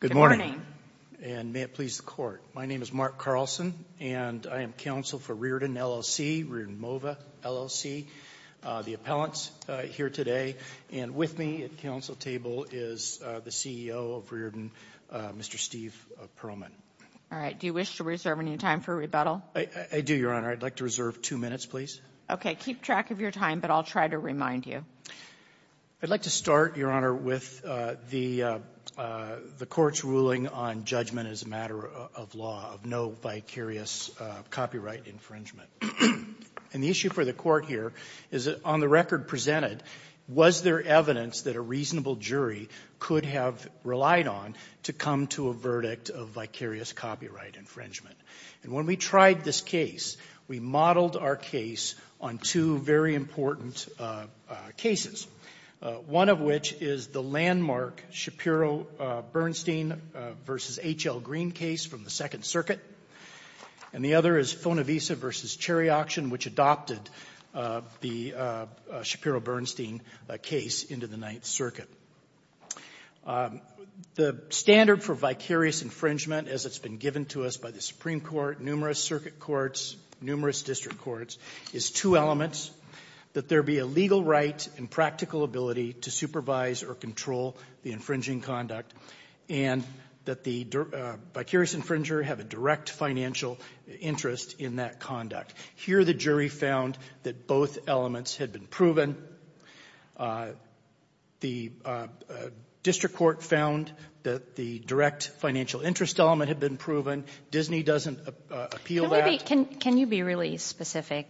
Good morning, and may it please the court. My name is Mark Carlson, and I am counsel for Rearden, LLC, Rearden MOVA, LLC. The appellant's here today, and with me at the counsel table is the CEO of Rearden, Mr. Steve Perlman. All right. Do you wish to reserve any time for rebuttal? I do, Your Honor. I'd like to reserve two minutes, please. Okay. Keep track of your time, but I'll try to remind you. I'd like to start, Your Honor, with the court's ruling on judgment as a matter of law of no vicarious copyright infringement. And the issue for the court here is that on the record presented, was there evidence that a reasonable jury could have relied on to come to a verdict of vicarious copyright infringement? And when we tried this case, we modeled our case on two very important cases, one of which is the landmark Shapiro-Bernstein v. H.L. Green case from the Second Circuit, and the other is Fonavisa v. Cherry Auction, which adopted the Shapiro-Bernstein case into the Ninth Circuit. The standard for vicarious infringement, as it's been given to us by the Supreme Court, numerous circuit courts, numerous district courts, is two elements, that there be a legal right and practical ability to supervise or control the infringing conduct, and that the vicarious infringer have a direct financial interest in that conduct. Here the jury found that both elements had been proven. The district court found that the direct financial interest element had been proven. Disney doesn't appeal that. Can you be really specific?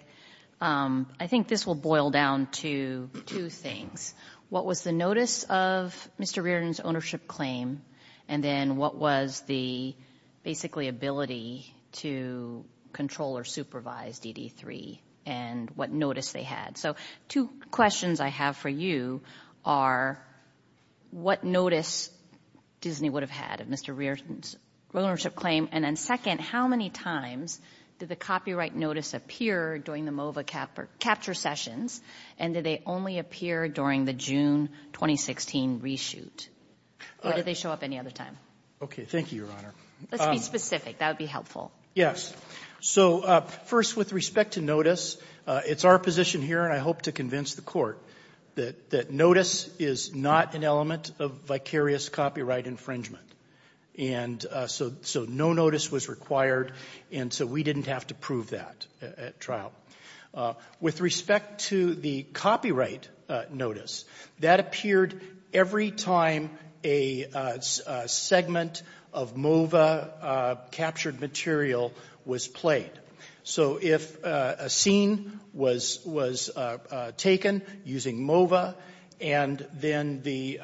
I think this will boil down to two things. What was the notice of Mr. Reardon's ownership claim, and then what was the basically ability to control or supervise DD3, and what notice they had? So two questions I have for you are what notice Disney would have had of Mr. Reardon's ownership claim, and then second, how many times did the copyright notice appear during the MOVA capture sessions, and did they only appear during the June 2016 reshoot? Or did they show up any other time? Okay, thank you, Your Honor. Let's be specific. That would be helpful. Yes. So first, with respect to notice, it's our position here, and I hope to convince the Court, that notice is not an element of vicarious copyright infringement. And so no notice was required, and so we didn't have to prove that at trial. With respect to the copyright notice, that appeared every time a segment of MOVA-captured material was played. So if a scene was taken using MOVA, and then the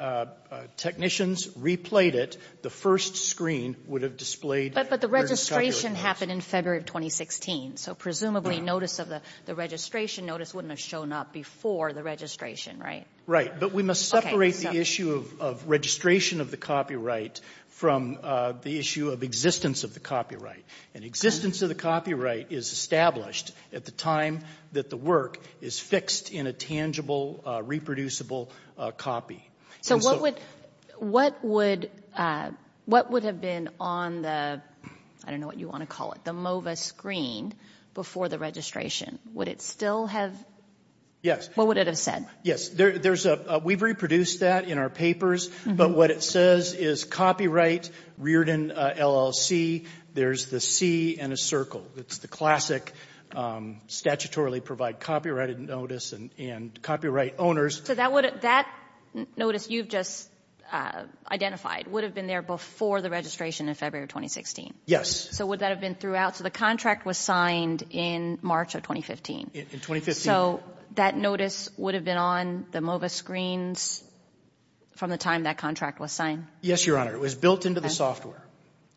technicians replayed it, the first screen would have displayed... But the registration happened in February of 2016, so presumably notice of the registration notice wouldn't have shown up before the registration, right? Right, but we must separate the issue of registration of the copyright from the issue of existence of the copyright. And existence of the copyright is established at the time that the work is fixed in a tangible, reproducible copy. So what would have been on the, I don't know what you want to call it, the MOVA screen before the registration? Would it still have... Yes. What would it have said? Yes, we've reproduced that in our papers, but what it says is copyright, Reardon LLC, there's the C and a circle. It's the classic, statutorily provide copyrighted notice and copyright owners. So that notice you've just identified would have been there before the registration in February of 2016? Yes. So would that have been throughout? So the contract was signed in March of 2015? In 2015. Okay, so that notice would have been on the MOVA screens from the time that contract was signed? Yes, Your Honor, it was built into the software.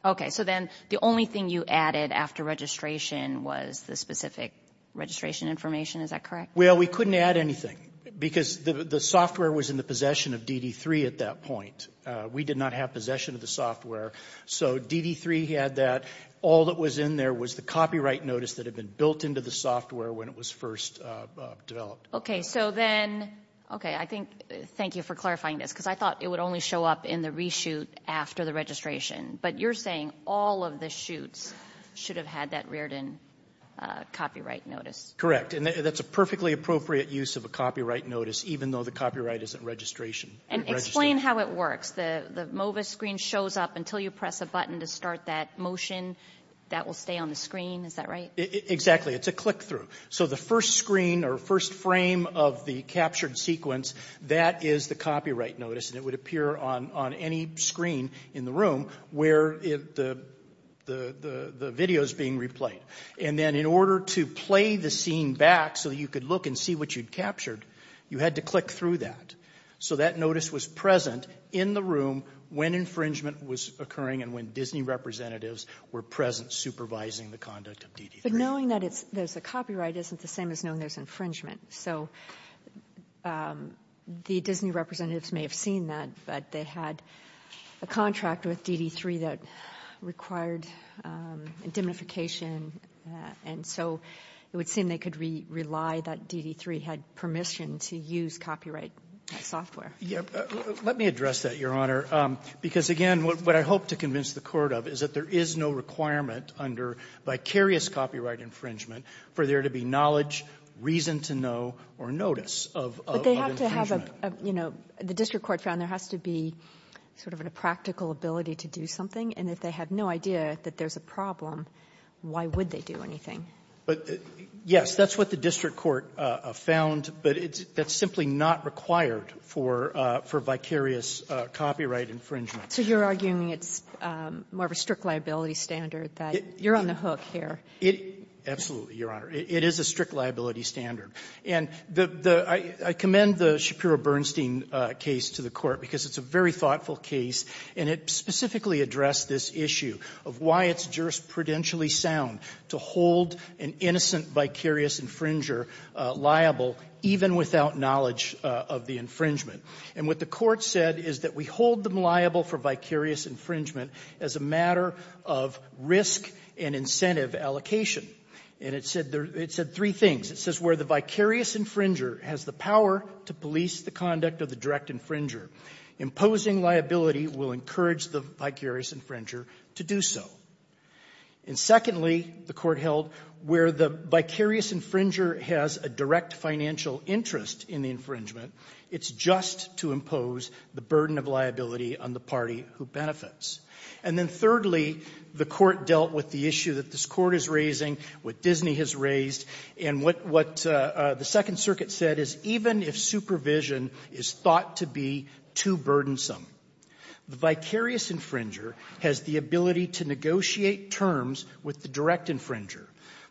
Okay, so then the only thing you added after registration was the specific registration information, is that correct? Well, we couldn't add anything because the software was in the possession of DD3 at that point. We did not have possession of the software, so DD3 had that. All that was in there was the copyright notice that had been built into the software when it was first developed. Okay, so then, okay, I think, thank you for clarifying this, because I thought it would only show up in the reshoot after the registration. But you're saying all of the shoots should have had that Reardon copyright notice? Correct, and that's a perfectly appropriate use of a copyright notice, even though the copyright is at registration. And explain how it works. The MOVA screen shows up until you press a button to start that motion. That will stay on the screen, is that right? Exactly, it's a click-through. So the first screen or first frame of the captured sequence, that is the copyright notice, and it would appear on any screen in the room where the video is being replayed. And then in order to play the scene back so that you could look and see what you'd captured, you had to click through that. So that notice was present in the room when infringement was occurring and when Disney representatives were present supervising the conduct of DD3. But knowing that there's a copyright isn't the same as knowing there's infringement. So the Disney representatives may have seen that, but they had a contract with DD3 that required indemnification, and so it would seem they could rely that DD3 had permission to use copyright software. Let me address that, Your Honor, because, again, what I hope to convince the Court of is that there is no requirement under vicarious copyright infringement for there to be knowledge, reason to know, or notice of infringement. But they have to have a, you know, the district court found there has to be sort of a practical ability to do something, and if they have no idea that there's a problem, why would they do anything? But, yes, that's what the district court found, but that's simply not required for vicarious copyright infringement. So you're arguing it's more of a strict liability standard that you're on the hook here. Absolutely, Your Honor. It is a strict liability standard. And the — I commend the Shapiro-Bernstein case to the Court because it's a very thoughtful case, and it specifically addressed this issue of why it's jurisprudentially sound to hold an innocent vicarious infringer liable even without knowledge of the infringement. And what the Court said is that we hold them liable for vicarious infringement as a matter of risk and incentive allocation. And it said three things. It says where the vicarious infringer has the power to police the conduct of the direct infringer, imposing liability will encourage the vicarious infringer to do so. And, secondly, the Court held where the vicarious infringer has a direct financial interest in the infringement, it's just to impose the burden of liability on the party who benefits. And then, thirdly, the Court dealt with the issue that this Court is raising, what Disney has raised, and what the Second Circuit said is even if supervision is thought to be too burdensome, the vicarious infringer has the ability to negotiate terms with the direct infringer.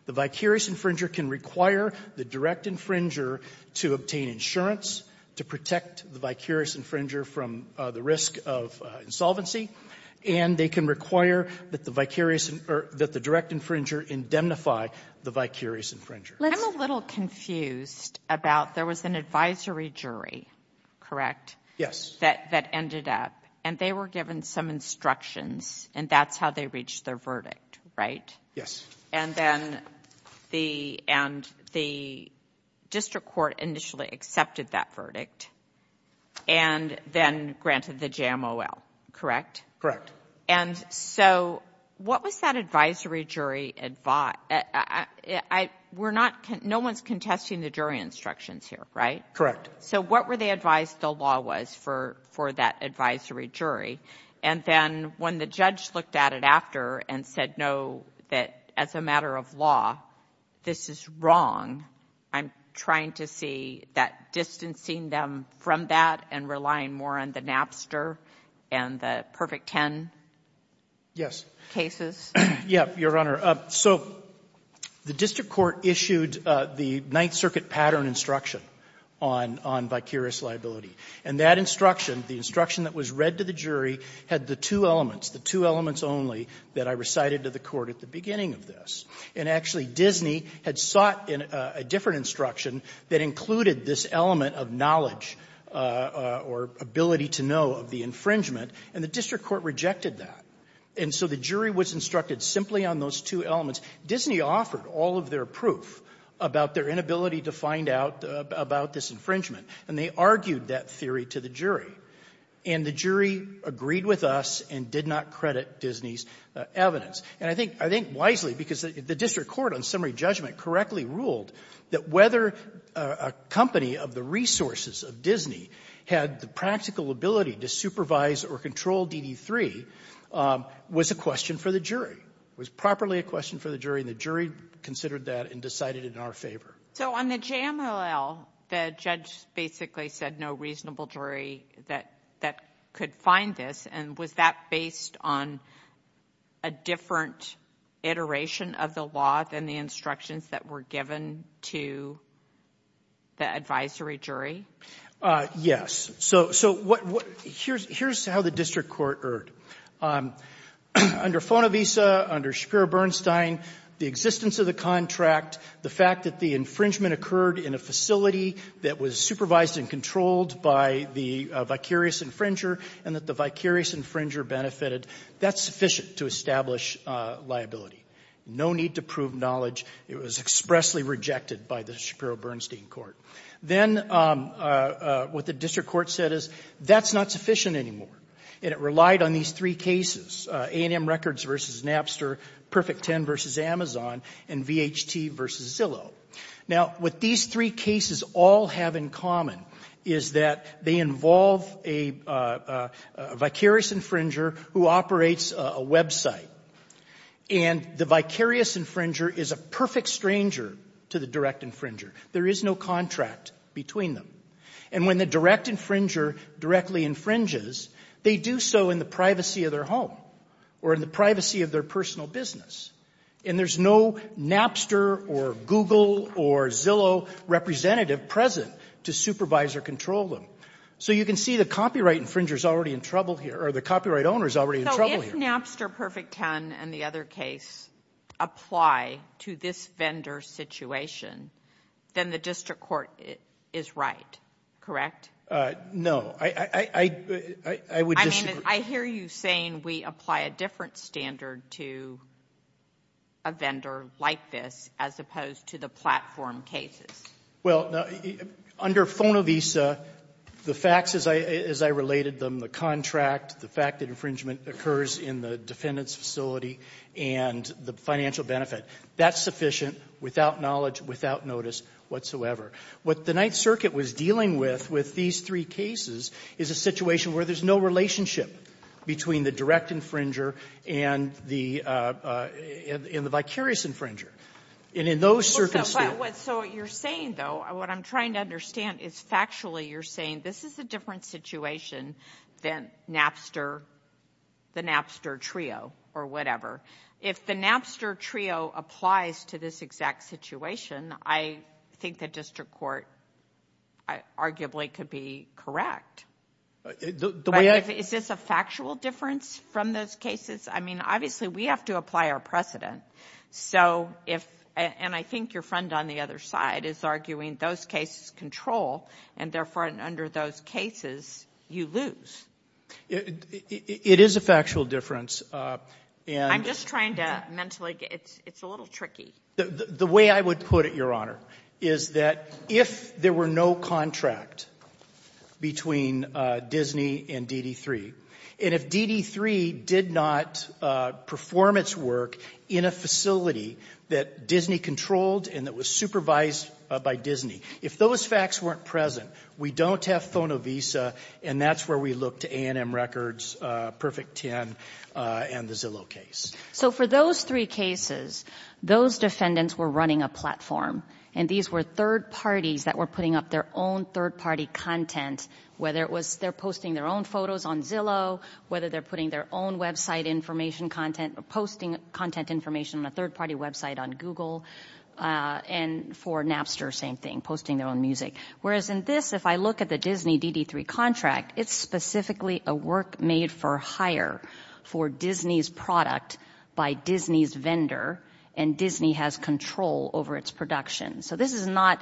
The vicarious infringer can require the direct infringer to obtain insurance to protect the vicarious infringer from the risk of insolvency, and they can require that the vicarious or that the direct infringer indemnify the vicarious infringer. I'm a little confused about there was an advisory jury, correct? Yes. That ended up, and they were given some instructions, and that's how they reached their verdict, right? Yes. And then the district court initially accepted that verdict, and then granted the JMOL, correct? And so what was that advisory jury? No one's contesting the jury instructions here, right? Correct. So what were they advised the law was for that advisory jury? And then when the judge looked at it after and said, no, that as a matter of law, this is wrong, I'm trying to see that distancing them from that and relying more on the Napster and the Perfect Ten cases? Yes. Yes, Your Honor. So the district court issued the Ninth Circuit pattern instruction on vicarious liability, and that instruction, the instruction that was read to the jury, had the two elements, the two elements only that I recited to the Court at the beginning of this. And actually, Disney had sought a different instruction that included this element of knowledge or ability to know of the infringement, and the district court rejected that. And so the jury was instructed simply on those two elements. Disney offered all of their proof about their inability to find out about this infringement, and they argued that theory to the jury. And the jury agreed with us and did not credit Disney's evidence. And I think wisely, because the district court on summary judgment correctly ruled that whether a company of the resources of Disney had the practical ability to supervise or control DD3 was a question for the jury, was properly a question for the jury, and the jury considered that and decided in our favor. So on the JMLL, the judge basically said no reasonable jury that could find this, and was that based on a different iteration of the law than the instructions that were given to the advisory jury? Yes. So here's how the district court erred. Under FONAVISA, under Shapiro-Bernstein, the existence of the contract, the fact that the infringement occurred in a facility that was supervised and controlled by the vicarious infringer and that the vicarious infringer benefited, that's sufficient to establish liability. No need to prove knowledge. It was expressly rejected by the Shapiro-Bernstein court. Then what the district court said is that's not sufficient anymore, and it relied on these three cases, A&M Records v. Napster, Perfect 10 v. Amazon, and VHT v. Zillow. Now, what these three cases all have in common is that they involve a vicarious infringer who operates a website, and the vicarious infringer is a perfect stranger to the direct infringer. There is no contract between them. And when the direct infringer directly infringes, they do so in the privacy of their home or in the privacy of their personal business. And there's no Napster or Google or Zillow representative present to supervise or control them. So you can see the copyright infringer is already in trouble here, or the copyright owner is already in trouble here. So if Napster, Perfect 10, and the other case apply to this vendor situation, then the district court is right, correct? No. I would disagree. I mean, I hear you saying we apply a different standard to a vendor like this as opposed to the platform cases. Well, under FONAVISA, the facts as I related them, the contract, the fact that infringement occurs in the defendant's facility, and the financial benefit, that's sufficient without knowledge, without notice whatsoever. What the Ninth Circuit was dealing with with these three cases is a situation where there's no relationship between the direct infringer and the vicarious infringer. And in those circumstances So what you're saying, though, what I'm trying to understand is factually you're saying this is a different situation than Napster, the Napster Trio, or whatever. If the Napster Trio applies to this exact situation, I think the district court arguably could be correct. The way I Is this a factual difference from those cases? I mean, obviously we have to apply our precedent. So if, and I think your friend on the other side is arguing those cases control, and therefore under those cases, you lose. It is a factual difference. I'm just trying to mentally, it's a little tricky. The way I would put it, Your Honor, is that if there were no contract between Disney and DD3, and if DD3 did not perform its work in a facility that Disney controlled and that was supervised by Disney, if those facts weren't present, we don't have Fonovisa, and that's where we look to A&M Records, Perfect Ten, and the Zillow case. So for those three cases, those defendants were running a platform, and these were third parties that were putting up their own third-party content, whether it was they're posting their own photos on Zillow, whether they're putting their own website information content, posting content information on a third-party website on Google, and for Napster, same thing, posting their own music. Whereas in this, if I look at the Disney-DD3 contract, it's specifically a work made for hire for Disney's product by Disney's vendor, and Disney has control over its production. So this is not,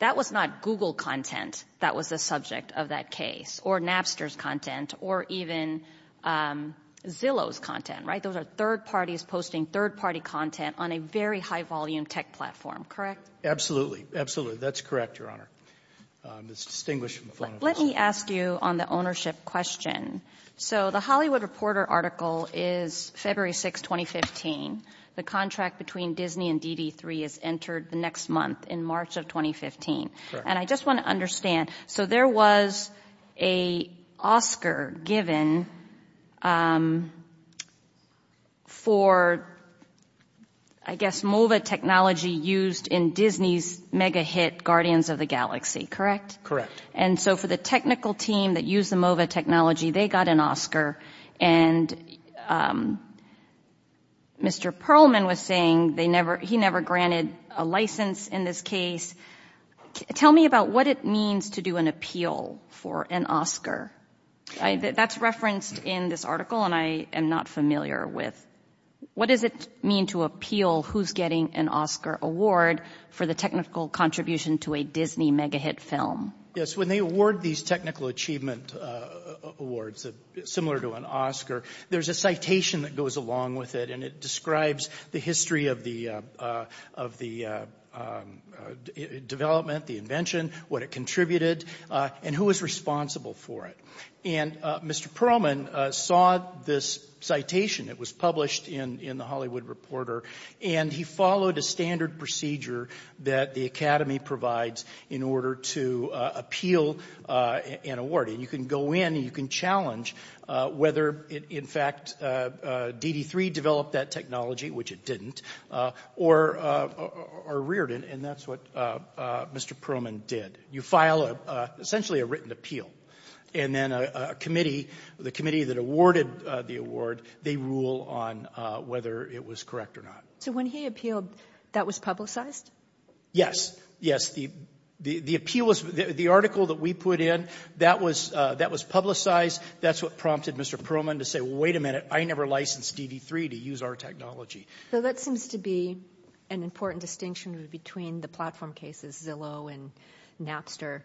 that was not Google content that was the subject of that case, or Napster's content, or even Zillow's content, right? Those are third parties posting third-party content on a very high-volume tech platform, correct? Absolutely. Absolutely. That's correct, Your Honor. It's distinguished from the phone information. Let me ask you on the ownership question. So the Hollywood Reporter article is February 6, 2015. The contract between Disney and DD3 is entered the next month, in March of 2015. Correct. And I just want to understand, so there was an Oscar given for, I guess, MOVA technology used in Disney's mega-hit Guardians of the Galaxy, correct? And so for the technical team that used the MOVA technology, they got an Oscar, and Mr. Perlman was saying he never granted a license in this case. Tell me about what it means to do an appeal for an Oscar. That's referenced in this article, and I am not familiar with what does it mean to appeal who's getting an Oscar award for the technical contribution to a Disney mega-hit film. Yes, when they award these technical achievement awards similar to an Oscar, there's a citation that goes along with it, and it describes the history of the development, the invention, what it contributed, and who was responsible for it. And Mr. Perlman saw this citation. It was published in The Hollywood Reporter, and he followed a standard procedure that the Academy provides in order to appeal and award. And you can go in, and you can challenge whether, in fact, DD3 developed that technology, which it didn't, or reared it, and that's what Mr. Perlman did. You file essentially a written appeal, and then a committee, the committee that awarded the award, they rule on whether it was correct or not. So when he appealed, that was publicized? Yes. Yes. The appeal was, the article that we put in, that was publicized. That's what prompted Mr. Perlman to say, wait a minute, I never licensed DD3 to use our technology. So that seems to be an important distinction between the platform cases, Zillow and Napster,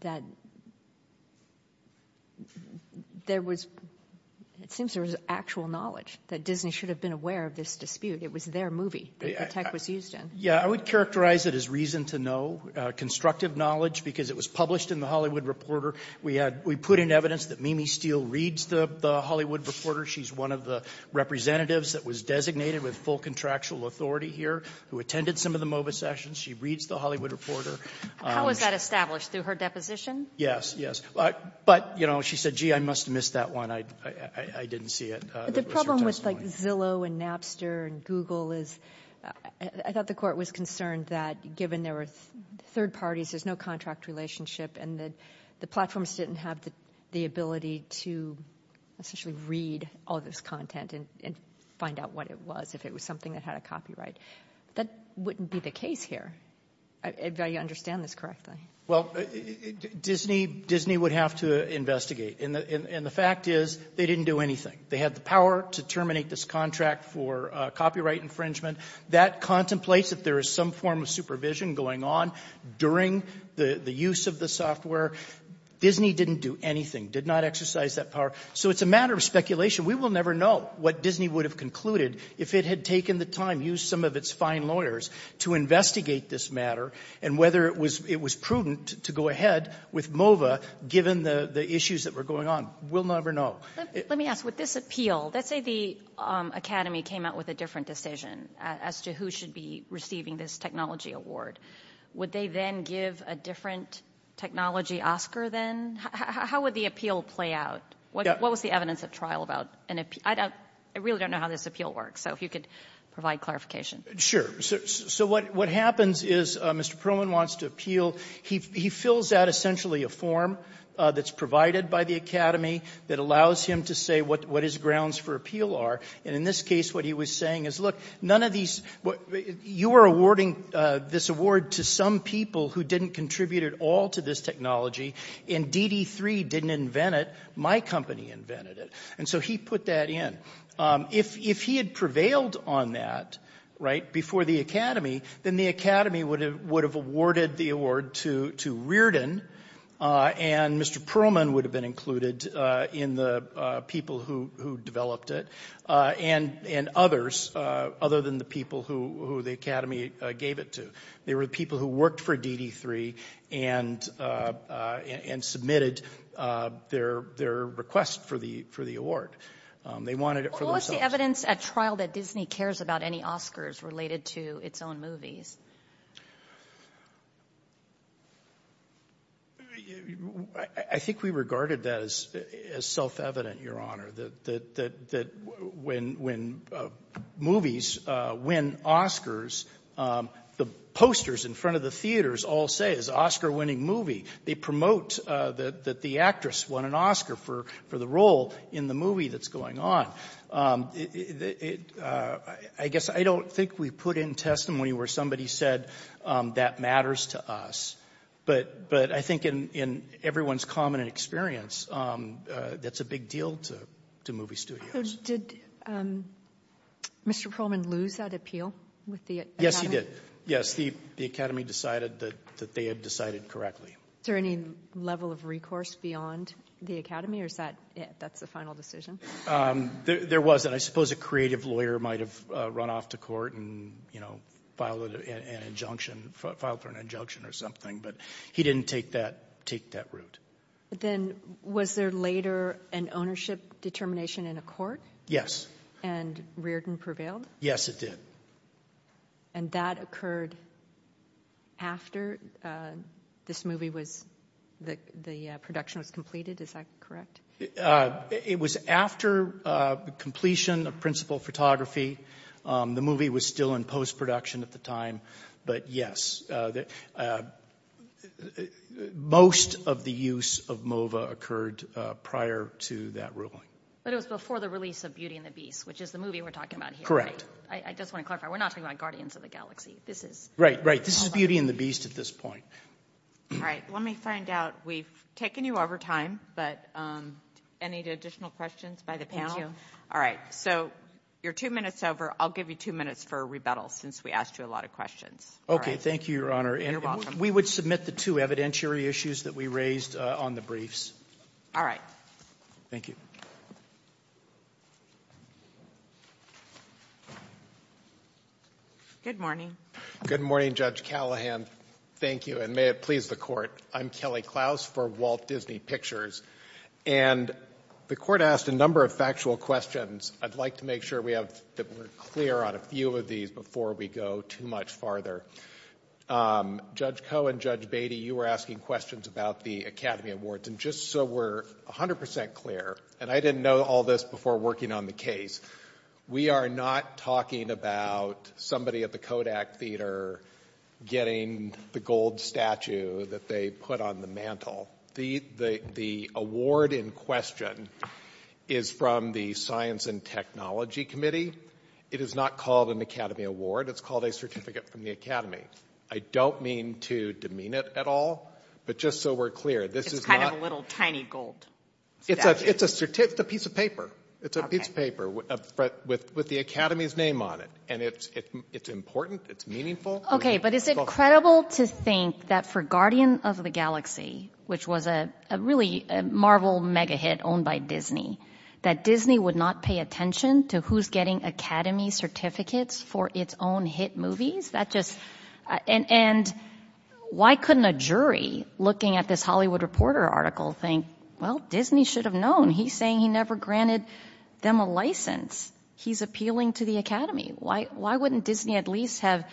that there was, it seems there was actual knowledge that Disney should have been aware of this dispute. It was their movie that the tech was used in. Yeah, I would characterize it as reason to know, constructive knowledge, because it was published in The Hollywood Reporter. We put in evidence that Mimi Steele reads The Hollywood Reporter. She's one of the representatives that was designated with full contractual authority here, who attended some of the MOBA sessions. She reads The Hollywood Reporter. How was that established? Through her deposition? Yes. Yes. But, you know, she said, gee, I must have missed that one. I didn't see it. The problem with, like, Zillow and Napster and Google is, I thought the court was concerned that given there were third parties, there's no contract relationship, and that the platforms didn't have the ability to essentially read all this content and find out what it was, if it was something that had a copyright. That wouldn't be the case here, if I understand this correctly. Well, Disney would have to investigate. And the fact is, they didn't do anything. They had the power to terminate this contract for copyright infringement. That contemplates that there is some form of supervision going on during the use of the software. Disney didn't do anything, did not exercise that power. So it's a matter of speculation. We will never know what Disney would have concluded if it had taken the time, used some of its fine lawyers to investigate this matter and whether it was prudent to go ahead with MOVA, given the issues that were going on. We'll never know. Let me ask, with this appeal, let's say the Academy came out with a different decision as to who should be receiving this technology award. Would they then give a different technology Oscar then? How would the appeal play out? What was the evidence of trial about? I really don't know how this appeal works. So if you could provide clarification. Sure. So what happens is Mr. Perlman wants to appeal. He fills out essentially a form that's provided by the Academy that allows him to say what his grounds for appeal are. And in this case, what he was saying is, look, none of these you are awarding this award to some people who didn't contribute at all to this technology. And DD3 didn't invent it. My company invented it. And so he put that in. If he had prevailed on that before the Academy, then the Academy would have awarded the award to Riordan, and Mr. Perlman would have been included in the people who developed it and others other than the people who the Academy gave it to. They were the people who worked for DD3 and submitted their request for the award. They wanted it for themselves. What was the evidence at trial that Disney cares about any Oscars related to its own movies? I think we regarded that as self-evident, Your Honor, that when movies win Oscars, the posters in front of the theaters all say it's an Oscar-winning movie. They promote that the actress won an Oscar for the role in the movie that's going on. I guess I don't think we put in testimony where somebody said that matters to us. But I think in everyone's common experience, that's a big deal to movie studios. So did Mr. Perlman lose that appeal with the Academy? Yes, he did. Yes, the Academy decided that they had decided correctly. Is there any level of recourse beyond the Academy? Or is that it? That's the final decision? There was. And I suppose a creative lawyer might have run off to court and filed for an injunction or something. But he didn't take that route. Then was there later an ownership determination in a court? Yes. And Riordan prevailed? Yes, it did. And that occurred after this movie was, the production was completed? Is that correct? It was after the completion of principal photography. The movie was still in post-production at the time. But yes, most of the use of MOVA occurred prior to that ruling. But it was before the release of Beauty and the Beast, which is the movie we're talking about here, right? I just want to clarify. We're not talking about Guardians of the Galaxy. Right, right. This is Beauty and the Beast at this point. All right. Let me find out. We've taken you over time, but any additional questions by the panel? Thank you. All right. So you're two minutes over. I'll give you two minutes for rebuttal since we asked you a lot of questions. Okay. Thank you, Your Honor. You're welcome. And we would submit the two evidentiary issues that we raised on the briefs. All right. Thank you. Good morning. Good morning, Judge Callahan. Thank you, and may it please the Court. I'm Kelly Klaus for Walt Disney Pictures. And the Court asked a number of factual questions. I'd like to make sure that we're clear on a few of these before we go too much farther. Judge Koh and Judge Beatty, you were asking questions about the Academy Awards. And just so we're 100 percent clear, and I didn't know all this before working on the case, we are not talking about somebody at the Kodak Theater getting the gold statue that they put on the mantle. The award in question is from the Science and Technology Committee. It is not called an Academy Award. It's called a Certificate from the Academy. I don't mean to demean it at all, but just so we're clear, this is not— It's kind of a little tiny gold statue. It's a piece of paper. It's a piece of paper with the Academy's name on it. And it's important. It's meaningful. Okay, but is it credible to think that for Guardian of the Galaxy, which was a really Marvel mega-hit owned by Disney, that Disney would not pay attention to who's getting Academy Certificates for its own hit movies? That just—and why couldn't a jury looking at this Hollywood Reporter article think, well, Disney should have known. He's saying he never granted them a license. He's appealing to the Academy. Why wouldn't Disney at least have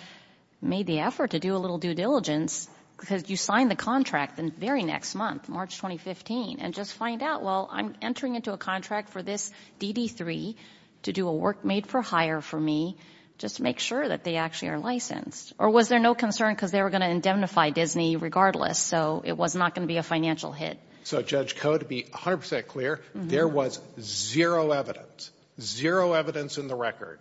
made the effort to do a little due diligence? Because you sign the contract the very next month, March 2015, and just find out, well, I'm entering into a contract for this DD3 to do a work made for hire for me. Just make sure that they actually are licensed. Or was there no concern because they were going to indemnify Disney regardless, so it was not going to be a financial hit? So, Judge Koh, to be 100 percent clear, there was zero evidence, zero evidence in the record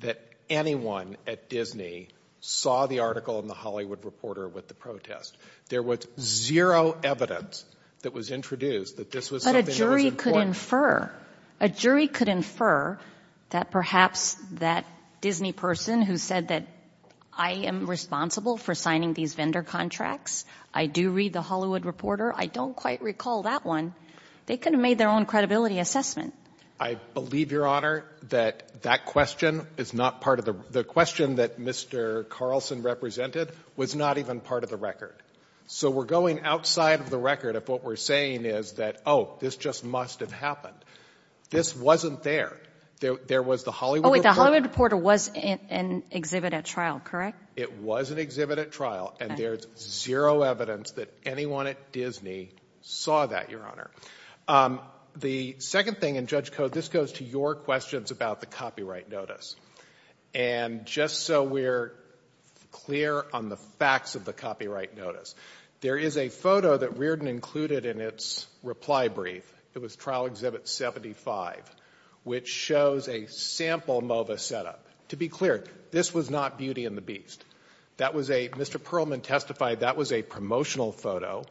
that anyone at Disney saw the article in the Hollywood Reporter with the protest. There was zero evidence that was introduced that this was something that was important. But a jury could infer, a jury could infer that perhaps that Disney person who said that I am responsible for signing these vendor contracts, I do read the Hollywood Reporter, I don't quite recall that one, they could have made their own credibility assessment. I believe, Your Honor, that that question is not part of the question that Mr. Carlson represented was not even part of the record. So we're going outside of the record if what we're saying is that, oh, this just must have happened. This wasn't there. There was the Hollywood Reporter. Oh, the Hollywood Reporter was an exhibit at trial, correct? It was an exhibit at trial. And there's zero evidence that anyone at Disney saw that, Your Honor. The second thing, and Judge Koh, this goes to your questions about the copyright notice. And just so we're clear on the facts of the copyright notice, there is a photo that Reardon included in its reply brief. It was Trial Exhibit 75, which shows a sample MOVA setup. To be clear, this was not Beauty and the Beast. Mr. Perlman testified that was a promotional photo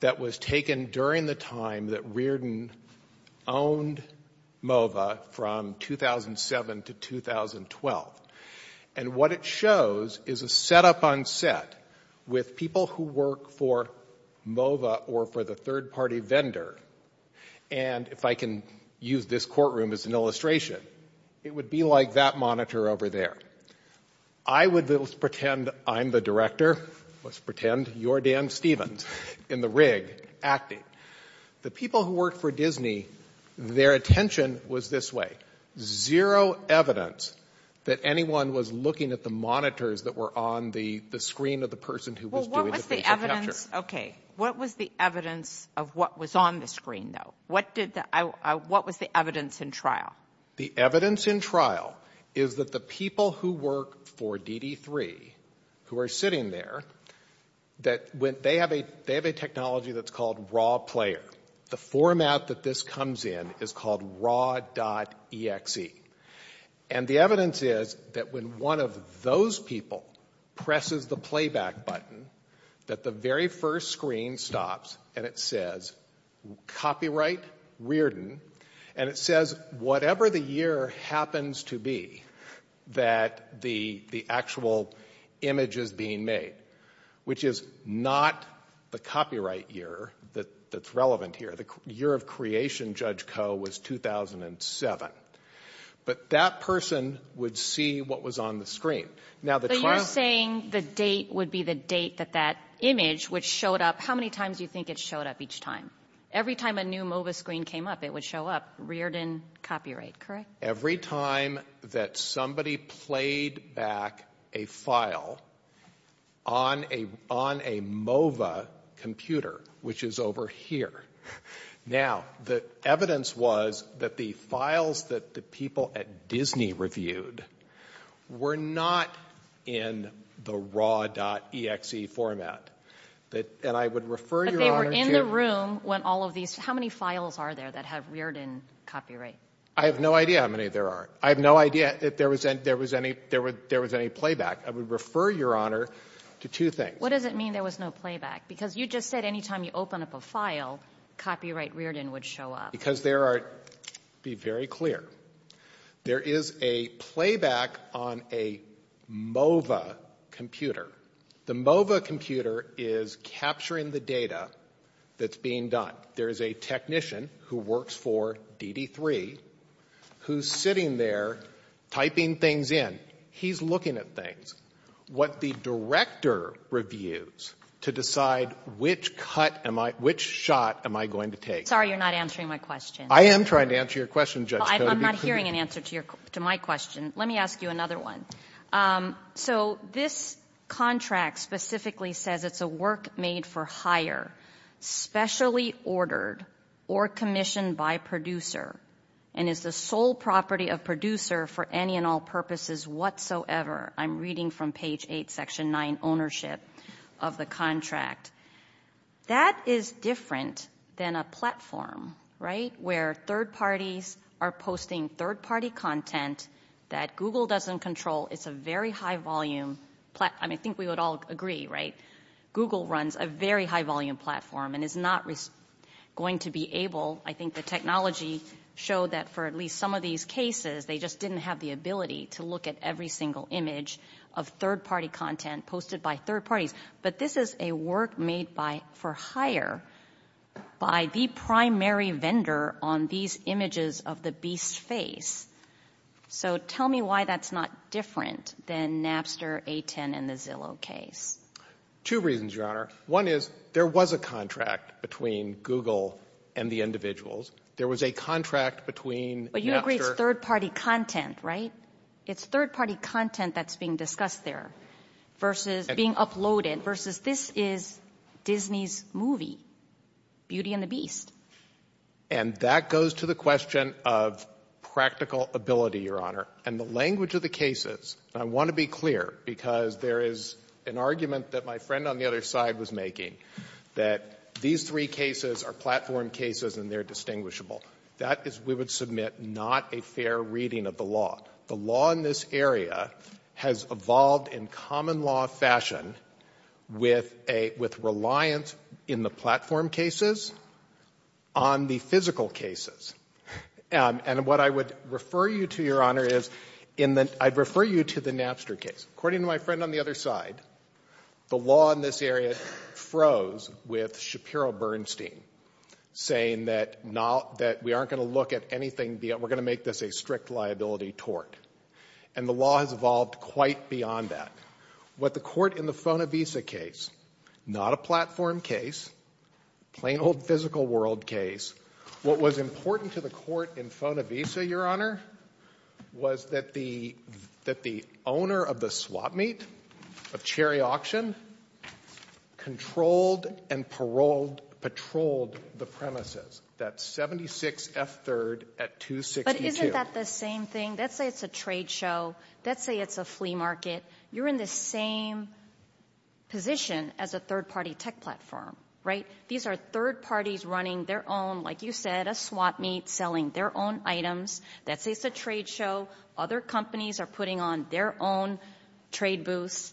that was taken during the time that Reardon owned MOVA from 2007 to 2012. And what it shows is a setup on set with people who work for MOVA or for the third-party vendor. And if I can use this courtroom as an illustration, it would be like that monitor over there. I would pretend I'm the director. Let's pretend you're Dan Stevens in the rig, acting. The people who work for Disney, their attention was this way. Zero evidence that anyone was looking at the monitors that were on the screen of the person who was doing the facial capture. Okay. What was the evidence of what was on the screen, though? What did the – what was the evidence in trial? The evidence in trial is that the people who work for DD3, who are sitting there, that when – they have a technology that's called raw player. The format that this comes in is called raw.exe. And the evidence is that when one of those people presses the playback button, that the Whatever the year happens to be that the actual image is being made, which is not the copyright year that's relevant here. The year of creation, Judge Koh, was 2007. But that person would see what was on the screen. Now, the trial – So you're saying the date would be the date that that image would show up. How many times do you think it showed up each time? Every time a new MOVA screen came up, it would show up reared in copyright, correct? Every time that somebody played back a file on a MOVA computer, which is over here. Now, the evidence was that the files that the people at Disney reviewed were not in the raw.exe format. And I would refer Your Honor to – They were in the room when all of these – how many files are there that have reared in copyright? I have no idea how many there are. I have no idea if there was any playback. I would refer Your Honor to two things. What does it mean there was no playback? Because you just said any time you open up a file, copyright reared in would show up. Because there are – be very clear. There is a playback on a MOVA computer. The MOVA computer is capturing the data that's being done. There is a technician who works for DD3 who's sitting there typing things in. He's looking at things. What the director reviews to decide which cut am I – which shot am I going to take. I'm sorry you're not answering my question. I am trying to answer your question, Judge Kotobuki. I'm not hearing an answer to my question. Let me ask you another one. So this contract specifically says it's a work made for hire, specially ordered or commissioned by producer, and is the sole property of producer for any and all purposes whatsoever. I'm reading from page 8, section 9, ownership of the contract. That is different than a platform, right, where third parties are posting third-party content that Google doesn't control. It's a very high-volume – I think we would all agree, right, Google runs a very high-volume platform and is not going to be able – I think the technology showed that for at least some of these cases, they just didn't have the ability to look at every single image of third-party content posted by third parties. But this is a work made by – for hire by the primary vendor on these images of the beast's face. So tell me why that's not different than Napster, A10, and the Zillow case. Two reasons, Your Honor. One is there was a contract between Google and the individuals. There was a contract between Napster – But you agree it's third-party content, right? It's third-party content that's being discussed there versus – being uploaded versus this is Disney's movie, Beauty and the Beast. And that goes to the question of practical ability, Your Honor. And the language of the cases – and I want to be clear, because there is an argument that my friend on the other side was making, that these three cases are platform cases and they're distinguishable. That is, we would submit, not a fair reading of the law. The law in this area has evolved in common law fashion with a – with reliance in the platform cases on the physical cases. And what I would refer you to, Your Honor, is in the – I'd refer you to the Napster case. According to my friend on the other side, the law in this area froze with Shapiro Bernstein, saying that not – that we aren't going to look at anything – we're going to make this a strict liability tort. And the law has evolved quite beyond that. What the court in the Fonavisa case – not a platform case, plain old physical world case – what was important to the court in Fonavisa, Your Honor, was that the – that the owner of the swap meet, of Cherry Auction, controlled and paroled – patrolled the premises. That's 76F3rd at 262. But isn't that the same thing? Let's say it's a trade show. Let's say it's a flea market. You're in the same position as a third-party tech platform, right? These are third parties running their own, like you said, a swap meet, selling their own items. Let's say it's a trade show. Other companies are putting on their own trade booths.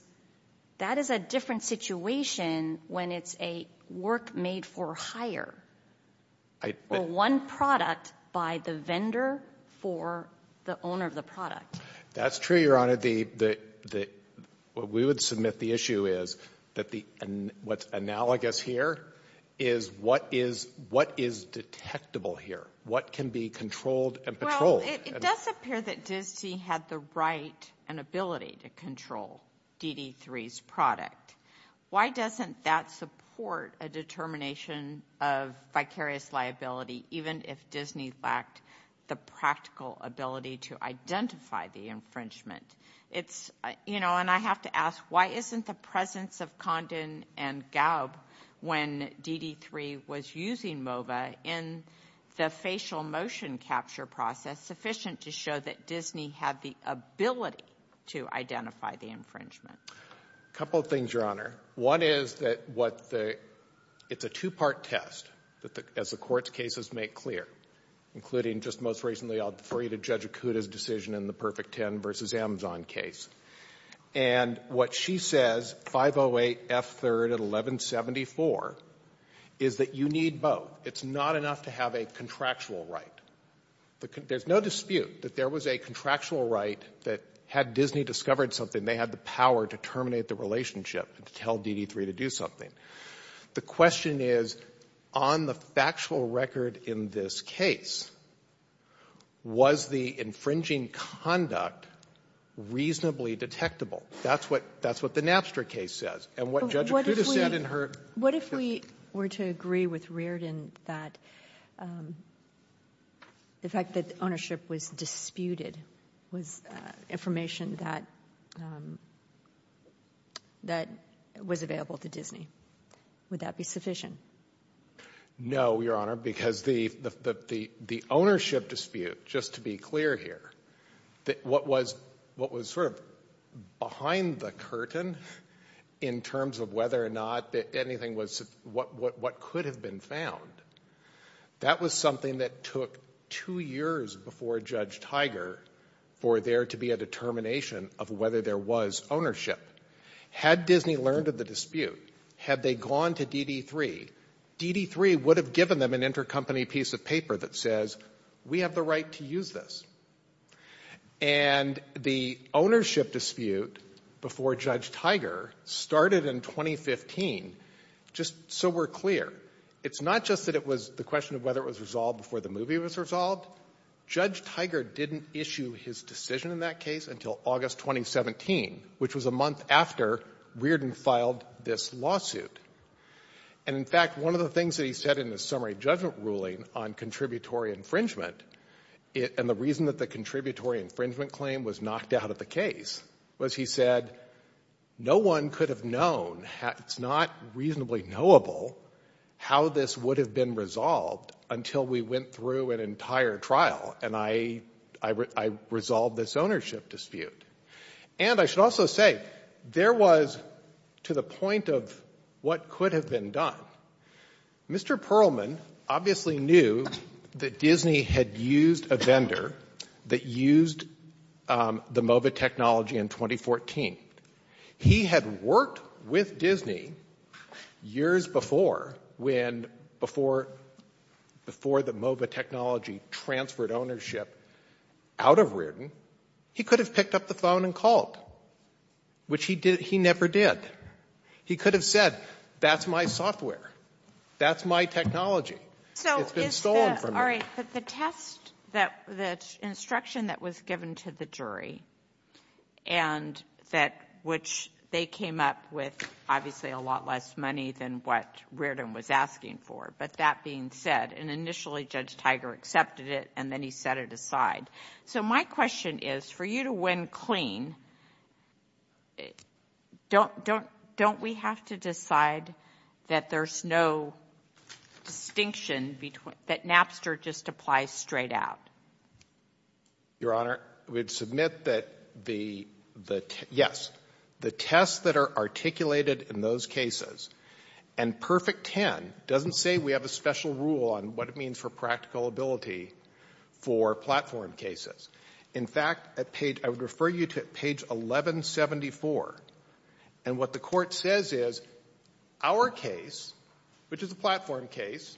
That is a different situation when it's a work made for hire, or one product by the vendor for the owner of the product. That's true, Your Honor. The – we would submit the issue is that the – what's analogous here is what is – what is detectable here. What can be controlled and patrolled? Well, it does appear that Disney had the right and ability to control DD3's product. Why doesn't that support a determination of vicarious liability even if Disney lacked the practical ability to identify the infringement? It's – you know, and I have to ask, why isn't the presence of Condon and Galb when DD3 was using MOVA in the facial motion capture process sufficient to show that Disney had the ability to identify the infringement? A couple of things, Your Honor. One is that what the – it's a two-part test that the – as the court's cases make clear, including just most recently I'll defer you to Judge Acuda's decision in the Perfect Ten versus Amazon case. And what she says, 508 F3 at 1174, is that you need both. It's not enough to have a contractual right. There's no dispute that there was a contractual right that had Disney discovered something, they had the power to terminate the relationship and to tell DD3 to do something. The question is, on the factual record in this case, was the infringing conduct reasonably detectable? That's what – that's what the Napster case says. And what Judge Acuda said in her – But what if we – what if we were to agree with Reardon that the fact that ownership was disputed was information that – that was available to Disney? Would that be sufficient? No, Your Honor, because the ownership dispute, just to be clear here, what was – what was sort of behind the curtain in terms of whether or not anything was – what could have been found, that was something that took two years before Judge Tiger for there to be a determination of whether there was ownership. Had Disney learned of the dispute, had they gone to DD3, DD3 would have given them an intercompany piece of paper that says, we have the right to use this. And the ownership dispute before Judge Tiger started in 2015, just so we're clear, it's not just that it was the question of whether it was resolved before the movie was resolved. Judge Tiger didn't issue his decision in that case until August 2017, which was a month after Reardon filed this lawsuit. And, in fact, one of the things that he said in his summary judgment ruling on contributory infringement, and the reason that the contributory infringement claim was knocked out of the case, was he said, no one could have known – it's not reasonably knowable how this would have been resolved until we went through an entire trial, and I resolved this ownership dispute. And I should also say, there was, to the point of what could have been done, Mr. Perlman obviously knew that Disney had used a vendor that used the MOVA technology in 2014. He had worked with Disney years before when – before the MOVA technology transferred ownership out of Reardon. He could have picked up the phone and called, which he never did. He could have said, that's my software. That's my technology. It's been stolen from me. So is the – all right. But the test that – the instruction that was given to the jury and that – which they came up with obviously a lot less money than what Reardon was asking for, but that being said, and initially Judge Tiger accepted it and then he set it aside. So my question is, for you to win clean, don't we have to decide that there's no distinction between – that Napster just applies straight out? Your Honor, we'd submit that the – yes, the tests that are articulated in those cases, and Perfect Ten doesn't say we have a special rule on what it means for practical ability for platform cases. In fact, at page – I would refer you to page 1174. And what the court says is, our case, which is a platform case,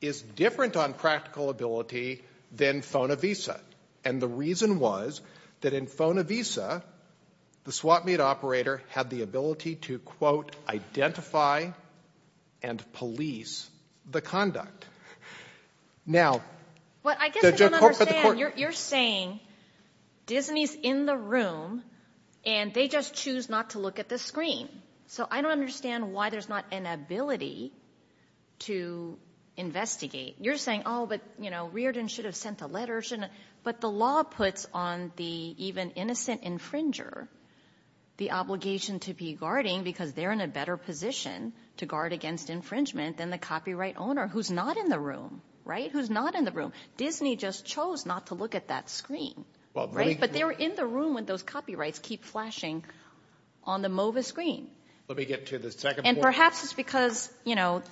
is different on practical ability than Phonavisa. And the reason was that in Phonavisa, the swap meet operator had the ability to quote, identify and police the conduct. Now – Well, I guess I don't understand. You're saying Disney's in the room and they just choose not to look at the screen. So I don't understand why there's not an ability to investigate. You're saying, oh, but, you know, Reardon should have sent a letter, shouldn't – but the law puts on the even innocent infringer the obligation to be guarding because they're in a better position to guard against infringement than the copyright owner who's not in the room, right? Who's not in the room. Disney just chose not to look at that screen, right? But they were in the room when those copyrights keep flashing on the MOVA screen. Let me get to the second point. And perhaps it's because, you know,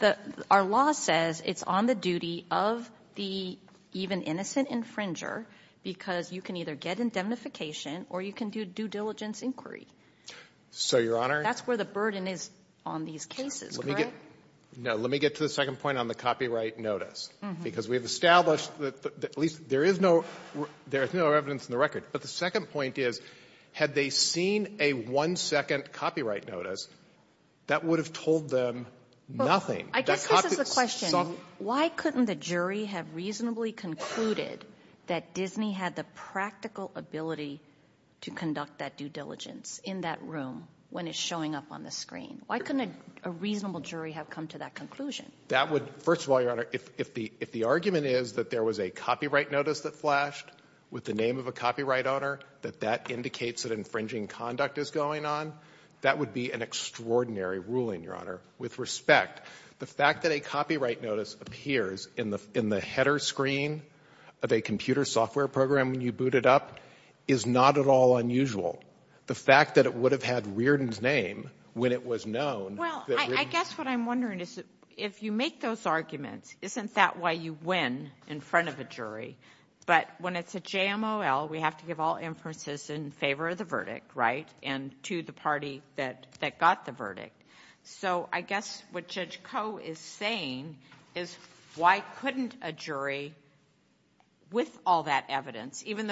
our law says it's on the duty of the even innocent infringer because you can either get indemnification or you can do due diligence inquiry. So, Your Honor – That's where the burden is on these cases, correct? No. Let me get to the second point on the copyright notice. Because we've established that at least there is no – there is no evidence in the record. But the second point is, had they seen a one-second copyright notice, that would have told them nothing. I guess this is the question. Why couldn't the jury have reasonably concluded that Disney had the practical ability to conduct that due diligence in that room when it's showing up on the screen? Why couldn't a reasonable jury have come to that conclusion? That would – first of all, Your Honor, if the argument is that there was a copyright notice that flashed with the name of a copyright owner, that that indicates that infringing conduct is going on, that would be an extraordinary ruling, Your With respect, the fact that a copyright notice appears in the header screen of a copyright is not at all unusual. The fact that it would have had Reardon's name when it was known – Well, I guess what I'm wondering is, if you make those arguments, isn't that why you win in front of a jury? But when it's a JMOL, we have to give all inferences in favor of the verdict, right? And to the party that got the verdict. So I guess what Judge Koh is saying is, why couldn't a jury, with all that they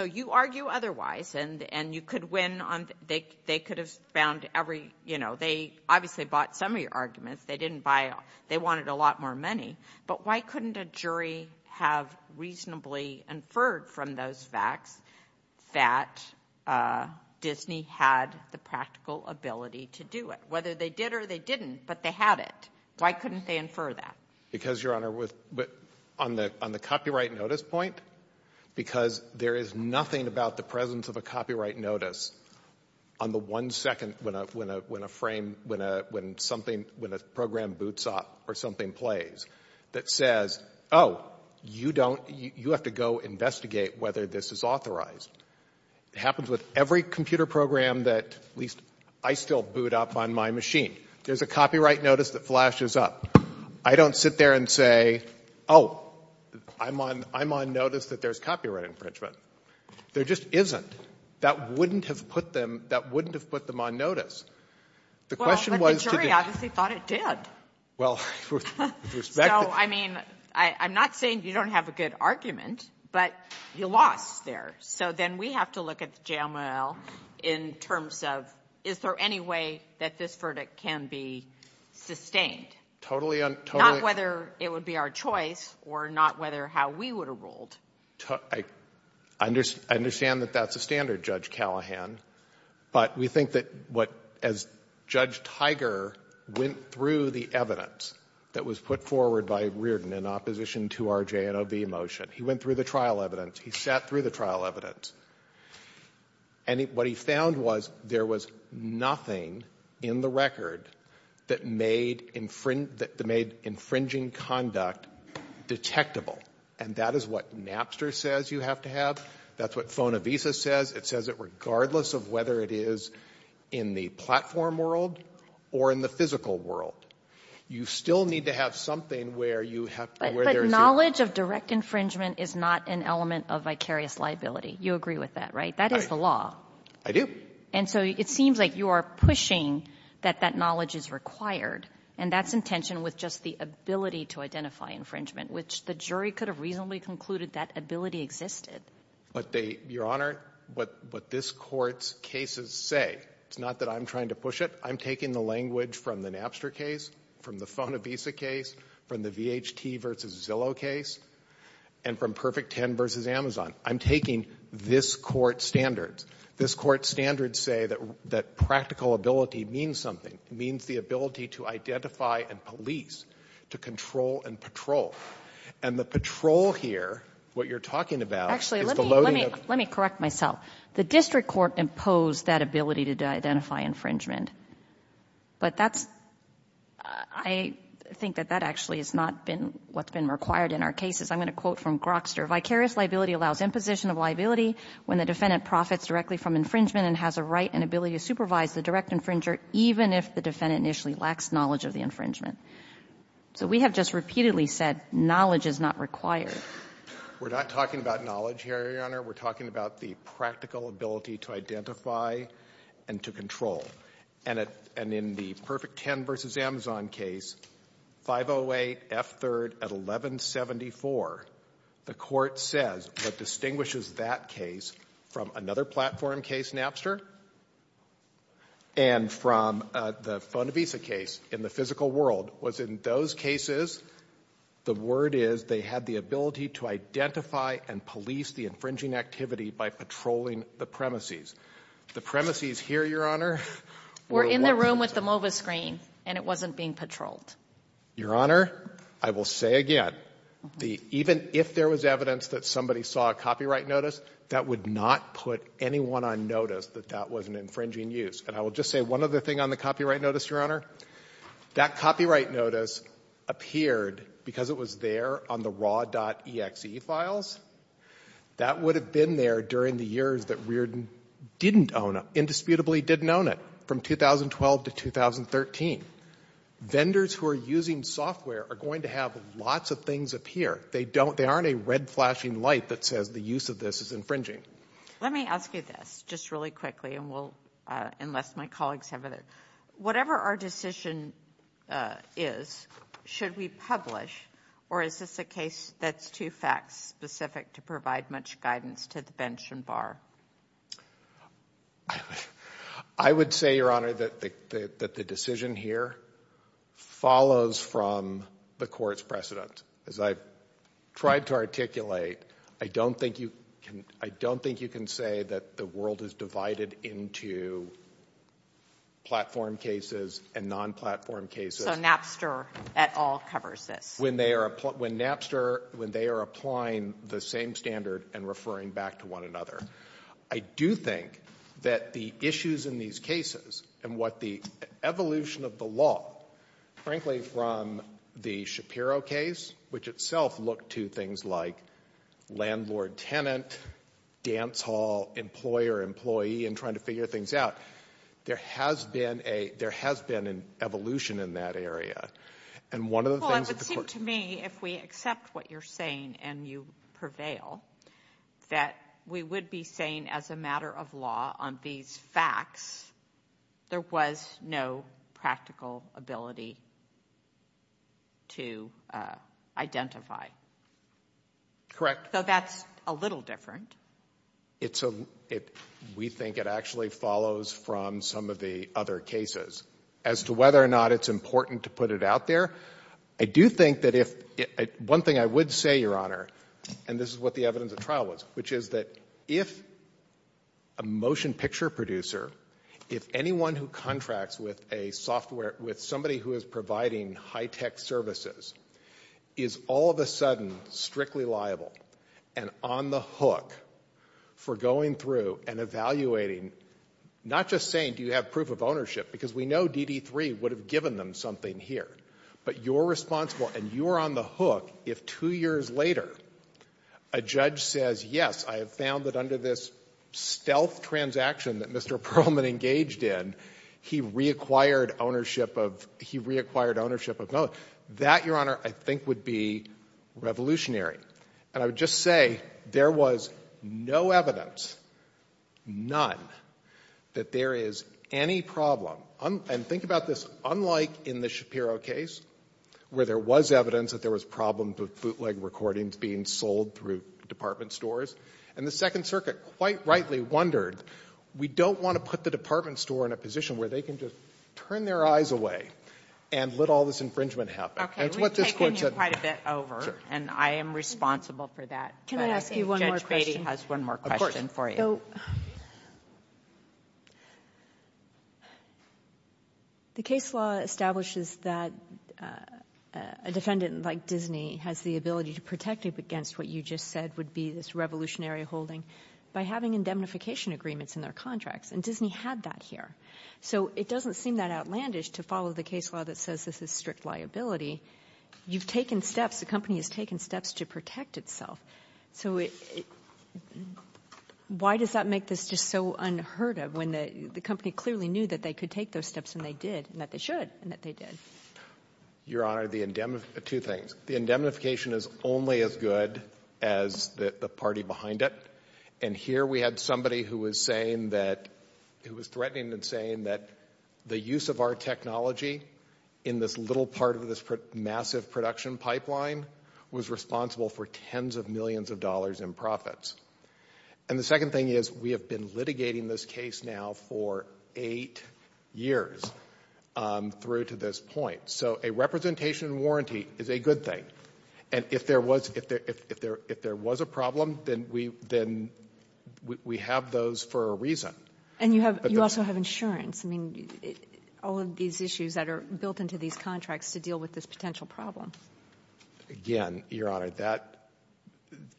know otherwise, and you could win on – they could have found every – you know, they obviously bought some of your arguments. They didn't buy – they wanted a lot more money. But why couldn't a jury have reasonably inferred from those facts that Disney had the practical ability to do it? Whether they did or they didn't, but they had it. Why couldn't they infer that? Because, Your Honor, on the copyright notice point, because there is nothing about the presence of a copyright notice on the one second when a frame – when something – when a program boots up or something plays that says, oh, you don't – you have to go investigate whether this is authorized. It happens with every computer program that at least I still boot up on my machine. There's a copyright notice that flashes up. I don't sit there and say, oh, I'm on notice that there's copyright infringement. There just isn't. That wouldn't have put them – that wouldn't have put them on notice. The question was to the – Well, but the jury obviously thought it did. Well, with respect to – So, I mean, I'm not saying you don't have a good argument, but you lost there. So then we have to look at the JLML in terms of is there any way that this verdict can be sustained? Totally – Not whether it would be our choice or not whether how we would have ruled. I understand that that's a standard, Judge Callahan, but we think that what – as Judge Tiger went through the evidence that was put forward by Reardon in opposition to our JNOB motion, he went through the trial evidence. He sat through the trial evidence. And what he found was there was nothing in the record that made infringing conduct detectable. And that is what Napster says you have to have. That's what FONAVISA says. It says it regardless of whether it is in the platform world or in the physical world. You still need to have something where you have – But knowledge of direct infringement is not an element of vicarious liability. You agree with that, right? That is the law. I do. And so it seems like you are pushing that that knowledge is required, and that's the ability to identify infringement, which the jury could have reasonably concluded that ability existed. Your Honor, what this Court's cases say, it's not that I'm trying to push it. I'm taking the language from the Napster case, from the FONAVISA case, from the VHT v. Zillow case, and from Perfect Ten v. Amazon. I'm taking this Court's standards. This Court's standards say that practical ability means something. It means the ability to identify and police, to control and patrol. And the patrol here, what you're talking about, is the loading of – Actually, let me correct myself. The district court imposed that ability to identify infringement. But that's – I think that that actually has not been what's been required in our cases. I'm going to quote from Grokster. Vicarious liability allows imposition of liability when the defendant profits directly from infringement and has a right and ability to supervise the direct infringer even if the defendant initially lacks knowledge of the infringement. So we have just repeatedly said knowledge is not required. We're not talking about knowledge here, Your Honor. We're talking about the practical ability to identify and to control. And in the Perfect Ten v. Amazon case, 508F3rd at 1174, the Court says what distinguishes that case from another platform case, Napster, and from the Phone-a-Visa case in the physical world was in those cases, the word is they had the ability to identify and police the infringing activity by patrolling the premises. The premises here, Your Honor – Were in the room with the MOVA screen, and it wasn't being patrolled. Your Honor, I will say again, even if there was evidence that somebody saw a copyright notice, that would not put anyone on notice that that was an infringing use. And I will just say one other thing on the copyright notice, Your Honor. That copyright notice appeared because it was there on the raw.exe files. That would have been there during the years that Reardon didn't own it, indisputably didn't own it, from 2012 to 2013. Vendors who are using software are going to have lots of things appear. They don't – they aren't a red flashing light that says the use of this is infringing. Let me ask you this, just really quickly, and we'll – unless my colleagues have other – whatever our decision is, should we publish? Or is this a case that's too fact-specific to provide much guidance to the bench and bar? I would say, Your Honor, that the decision here follows from the Court's precedent. As I've tried to articulate, I don't think you can – I don't think you can say that the world is divided into platform cases and non-platform cases. So Napster at all covers this? When they are – when Napster – when they are applying the same standard and referring back to one another. I do think that the issues in these cases and what the evolution of the law, frankly, from the Shapiro case, which itself looked to things like landlord-tenant, dance hall, employer-employee, and trying to figure things out, there has been a – there has been an evolution in that area. And one of the things that the Court – Well, it would seem to me, if we accept what you're saying and you prevail, that we would be saying, as a matter of law, on these facts, there was no practical ability to identify. Correct. So that's a little different. It's a – we think it actually follows from some of the other cases. As to whether or not it's important to put it out there, I do think that if – one thing I would say, Your Honor, and this is what the evidence of trial was, which is that if a motion picture producer, if anyone who contracts with a software – with somebody who is providing high-tech services is all of a sudden strictly liable and on the hook for going through and evaluating, not just saying, do you have proof of ownership, because we know DD3 would have given them something here, but you're responsible and you're on the hook if two years later a judge says, yes, I have found that under this stealth transaction that Mr. Perlman engaged in, he reacquired ownership of – he reacquired ownership of – that, Your Honor, I think would be revolutionary. And I would just say there was no evidence, none, that there is any problem – and think about this. Unlike in the Shapiro case, where there was evidence that there was problems with bootleg recordings being sold through department stores, and the Second Circuit, quite rightly, wondered, we don't want to put the department store in a position where they can just turn their eyes away and let all this infringement happen. And it's what this Court said. Kagan. Kagan. Kagan. Kagan. Kagan. Kagan. Kagan. Kagan. Kagan. The case law establishes that a defendant like Disney has the ability to protect against what you just said would be this revolutionary holding by having indemnification agreements in their contracts, and Disney had that here. So it doesn't seem that outlandish to follow the case law that says this is strict liability. You've taken steps. The company has taken steps to protect itself. So why does that make this just so unheard of when the company clearly knew that they could take those steps, and they did, and that they should, and that they did? Your Honor, the indemnification, two things. The indemnification is only as good as the party behind it. And here we had somebody who was saying that, who was threatening and saying that the use of our technology in this little part of this massive production pipeline was responsible for tens of millions of dollars in profits. And the second thing is we have been litigating this case now for eight years through to this point. So a representation warranty is a good thing. And if there was a problem, then we have those for a reason. And you also have insurance. I mean, all of these issues that are built into these contracts to deal with this potential problem. Again, Your Honor,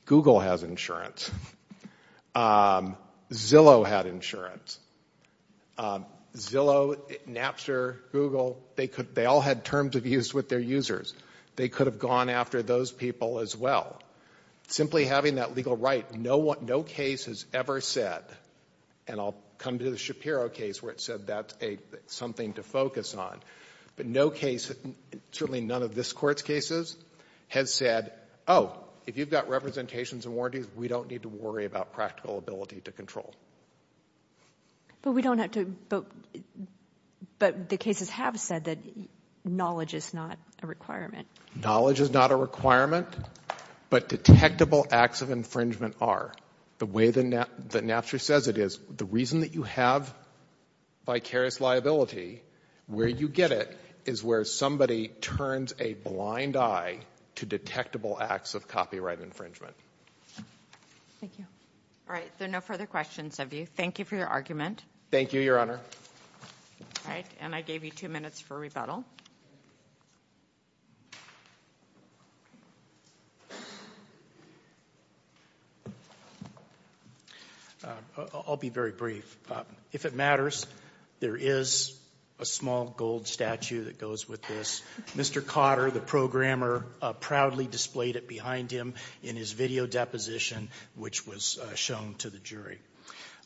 Google has insurance. Zillow had insurance. Zillow, Napster, Google, they all had terms of use with their users. They could have gone after those people as well. Simply having that legal right, no case has ever said, and I'll come to the Shapiro case where it said that's something to focus on. But no case, certainly none of this Court's cases, has said, oh, if you've got representations and warranties, we don't need to worry about practical ability to control. But we don't have to, but the cases have said that knowledge is not a requirement. Knowledge is not a requirement, but detectable acts of infringement are. The way that Napster says it is, the reason that you have vicarious liability, where you get it is where somebody turns a blind eye to detectable acts of copyright infringement. Thank you. All right, there are no further questions of you. Thank you for your argument. Thank you, Your Honor. All right, and I gave you two minutes for rebuttal. I'll be very brief. If it matters, there is a small gold statue that goes with this. Mr. Cotter, the programmer, proudly displayed it behind him in his video deposition, which was shown to the jury.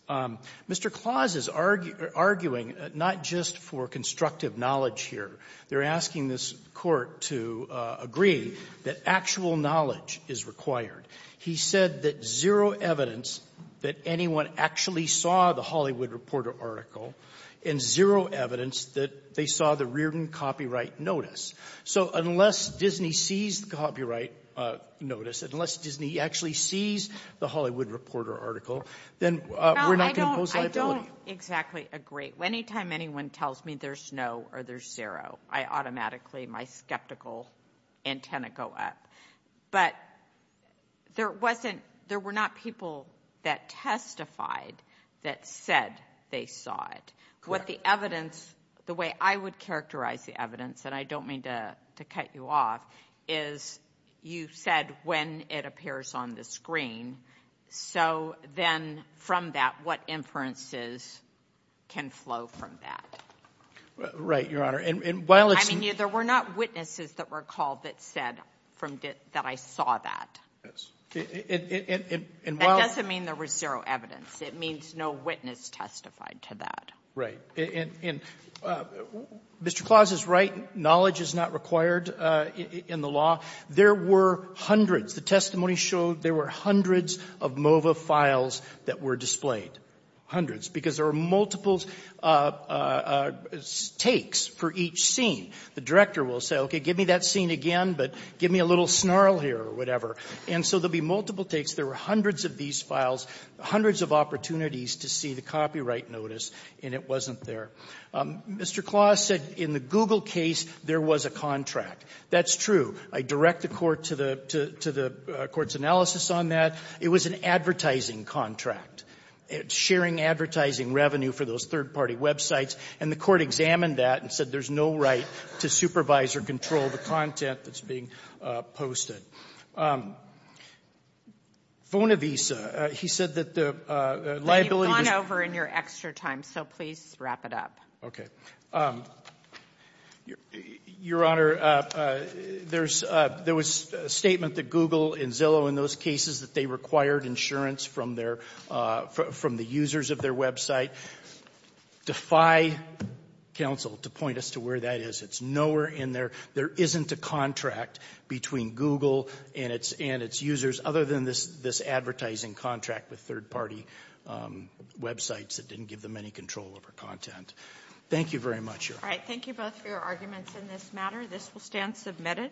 Mr. Claus is arguing not just for constructive knowledge here. They're asking this Court to agree that actual knowledge is required. He said that zero evidence that anyone actually saw the Hollywood Reporter article and zero evidence that they saw the Reardon copyright notice. So unless Disney sees the copyright notice, unless Disney actually sees the Hollywood Reporter article, then we're not going to impose liability. I don't exactly agree. Anytime anyone tells me there's no or there's zero, I automatically, my skeptical antenna go up. But there were not people that testified that said they saw it. The way I would characterize the evidence, and I don't mean to cut you off, is you said when it appears on the screen. So then from that, what inferences can flow from that? Right, Your Honor. I mean, there were not witnesses that were called that said that I saw that. That doesn't mean there was zero evidence. It means no witness testified to that. Right. And Mr. Claus is right. Knowledge is not required in the law. There were hundreds. The testimony showed there were hundreds of MOVA files that were displayed, hundreds, because there were multiple takes for each scene. The director will say, okay, give me that scene again, but give me a little snarl here or whatever. And so there will be multiple takes. There were hundreds of these files, hundreds of opportunities to see the copyright notice, and it wasn't there. Mr. Claus said in the Google case, there was a contract. That's true. I direct the Court to the Court's analysis on that. It was an advertising contract. It's sharing advertising revenue for those third-party websites, and the Court examined that and said there's no right to supervise or control the content that's being posted. Vona Visa, he said that the liability was — You've gone over in your extra time, so please wrap it up. Okay. Your Honor, there was a statement that Google and Zillow in those cases, that they required insurance from the users of their website. Defy counsel to point us to where that is. It's nowhere in there. There isn't a contract between Google and its users other than this advertising contract with third-party websites that didn't give them any control over content. Thank you very much, Your Honor. All right, thank you both for your arguments in this matter. This will stand submitted.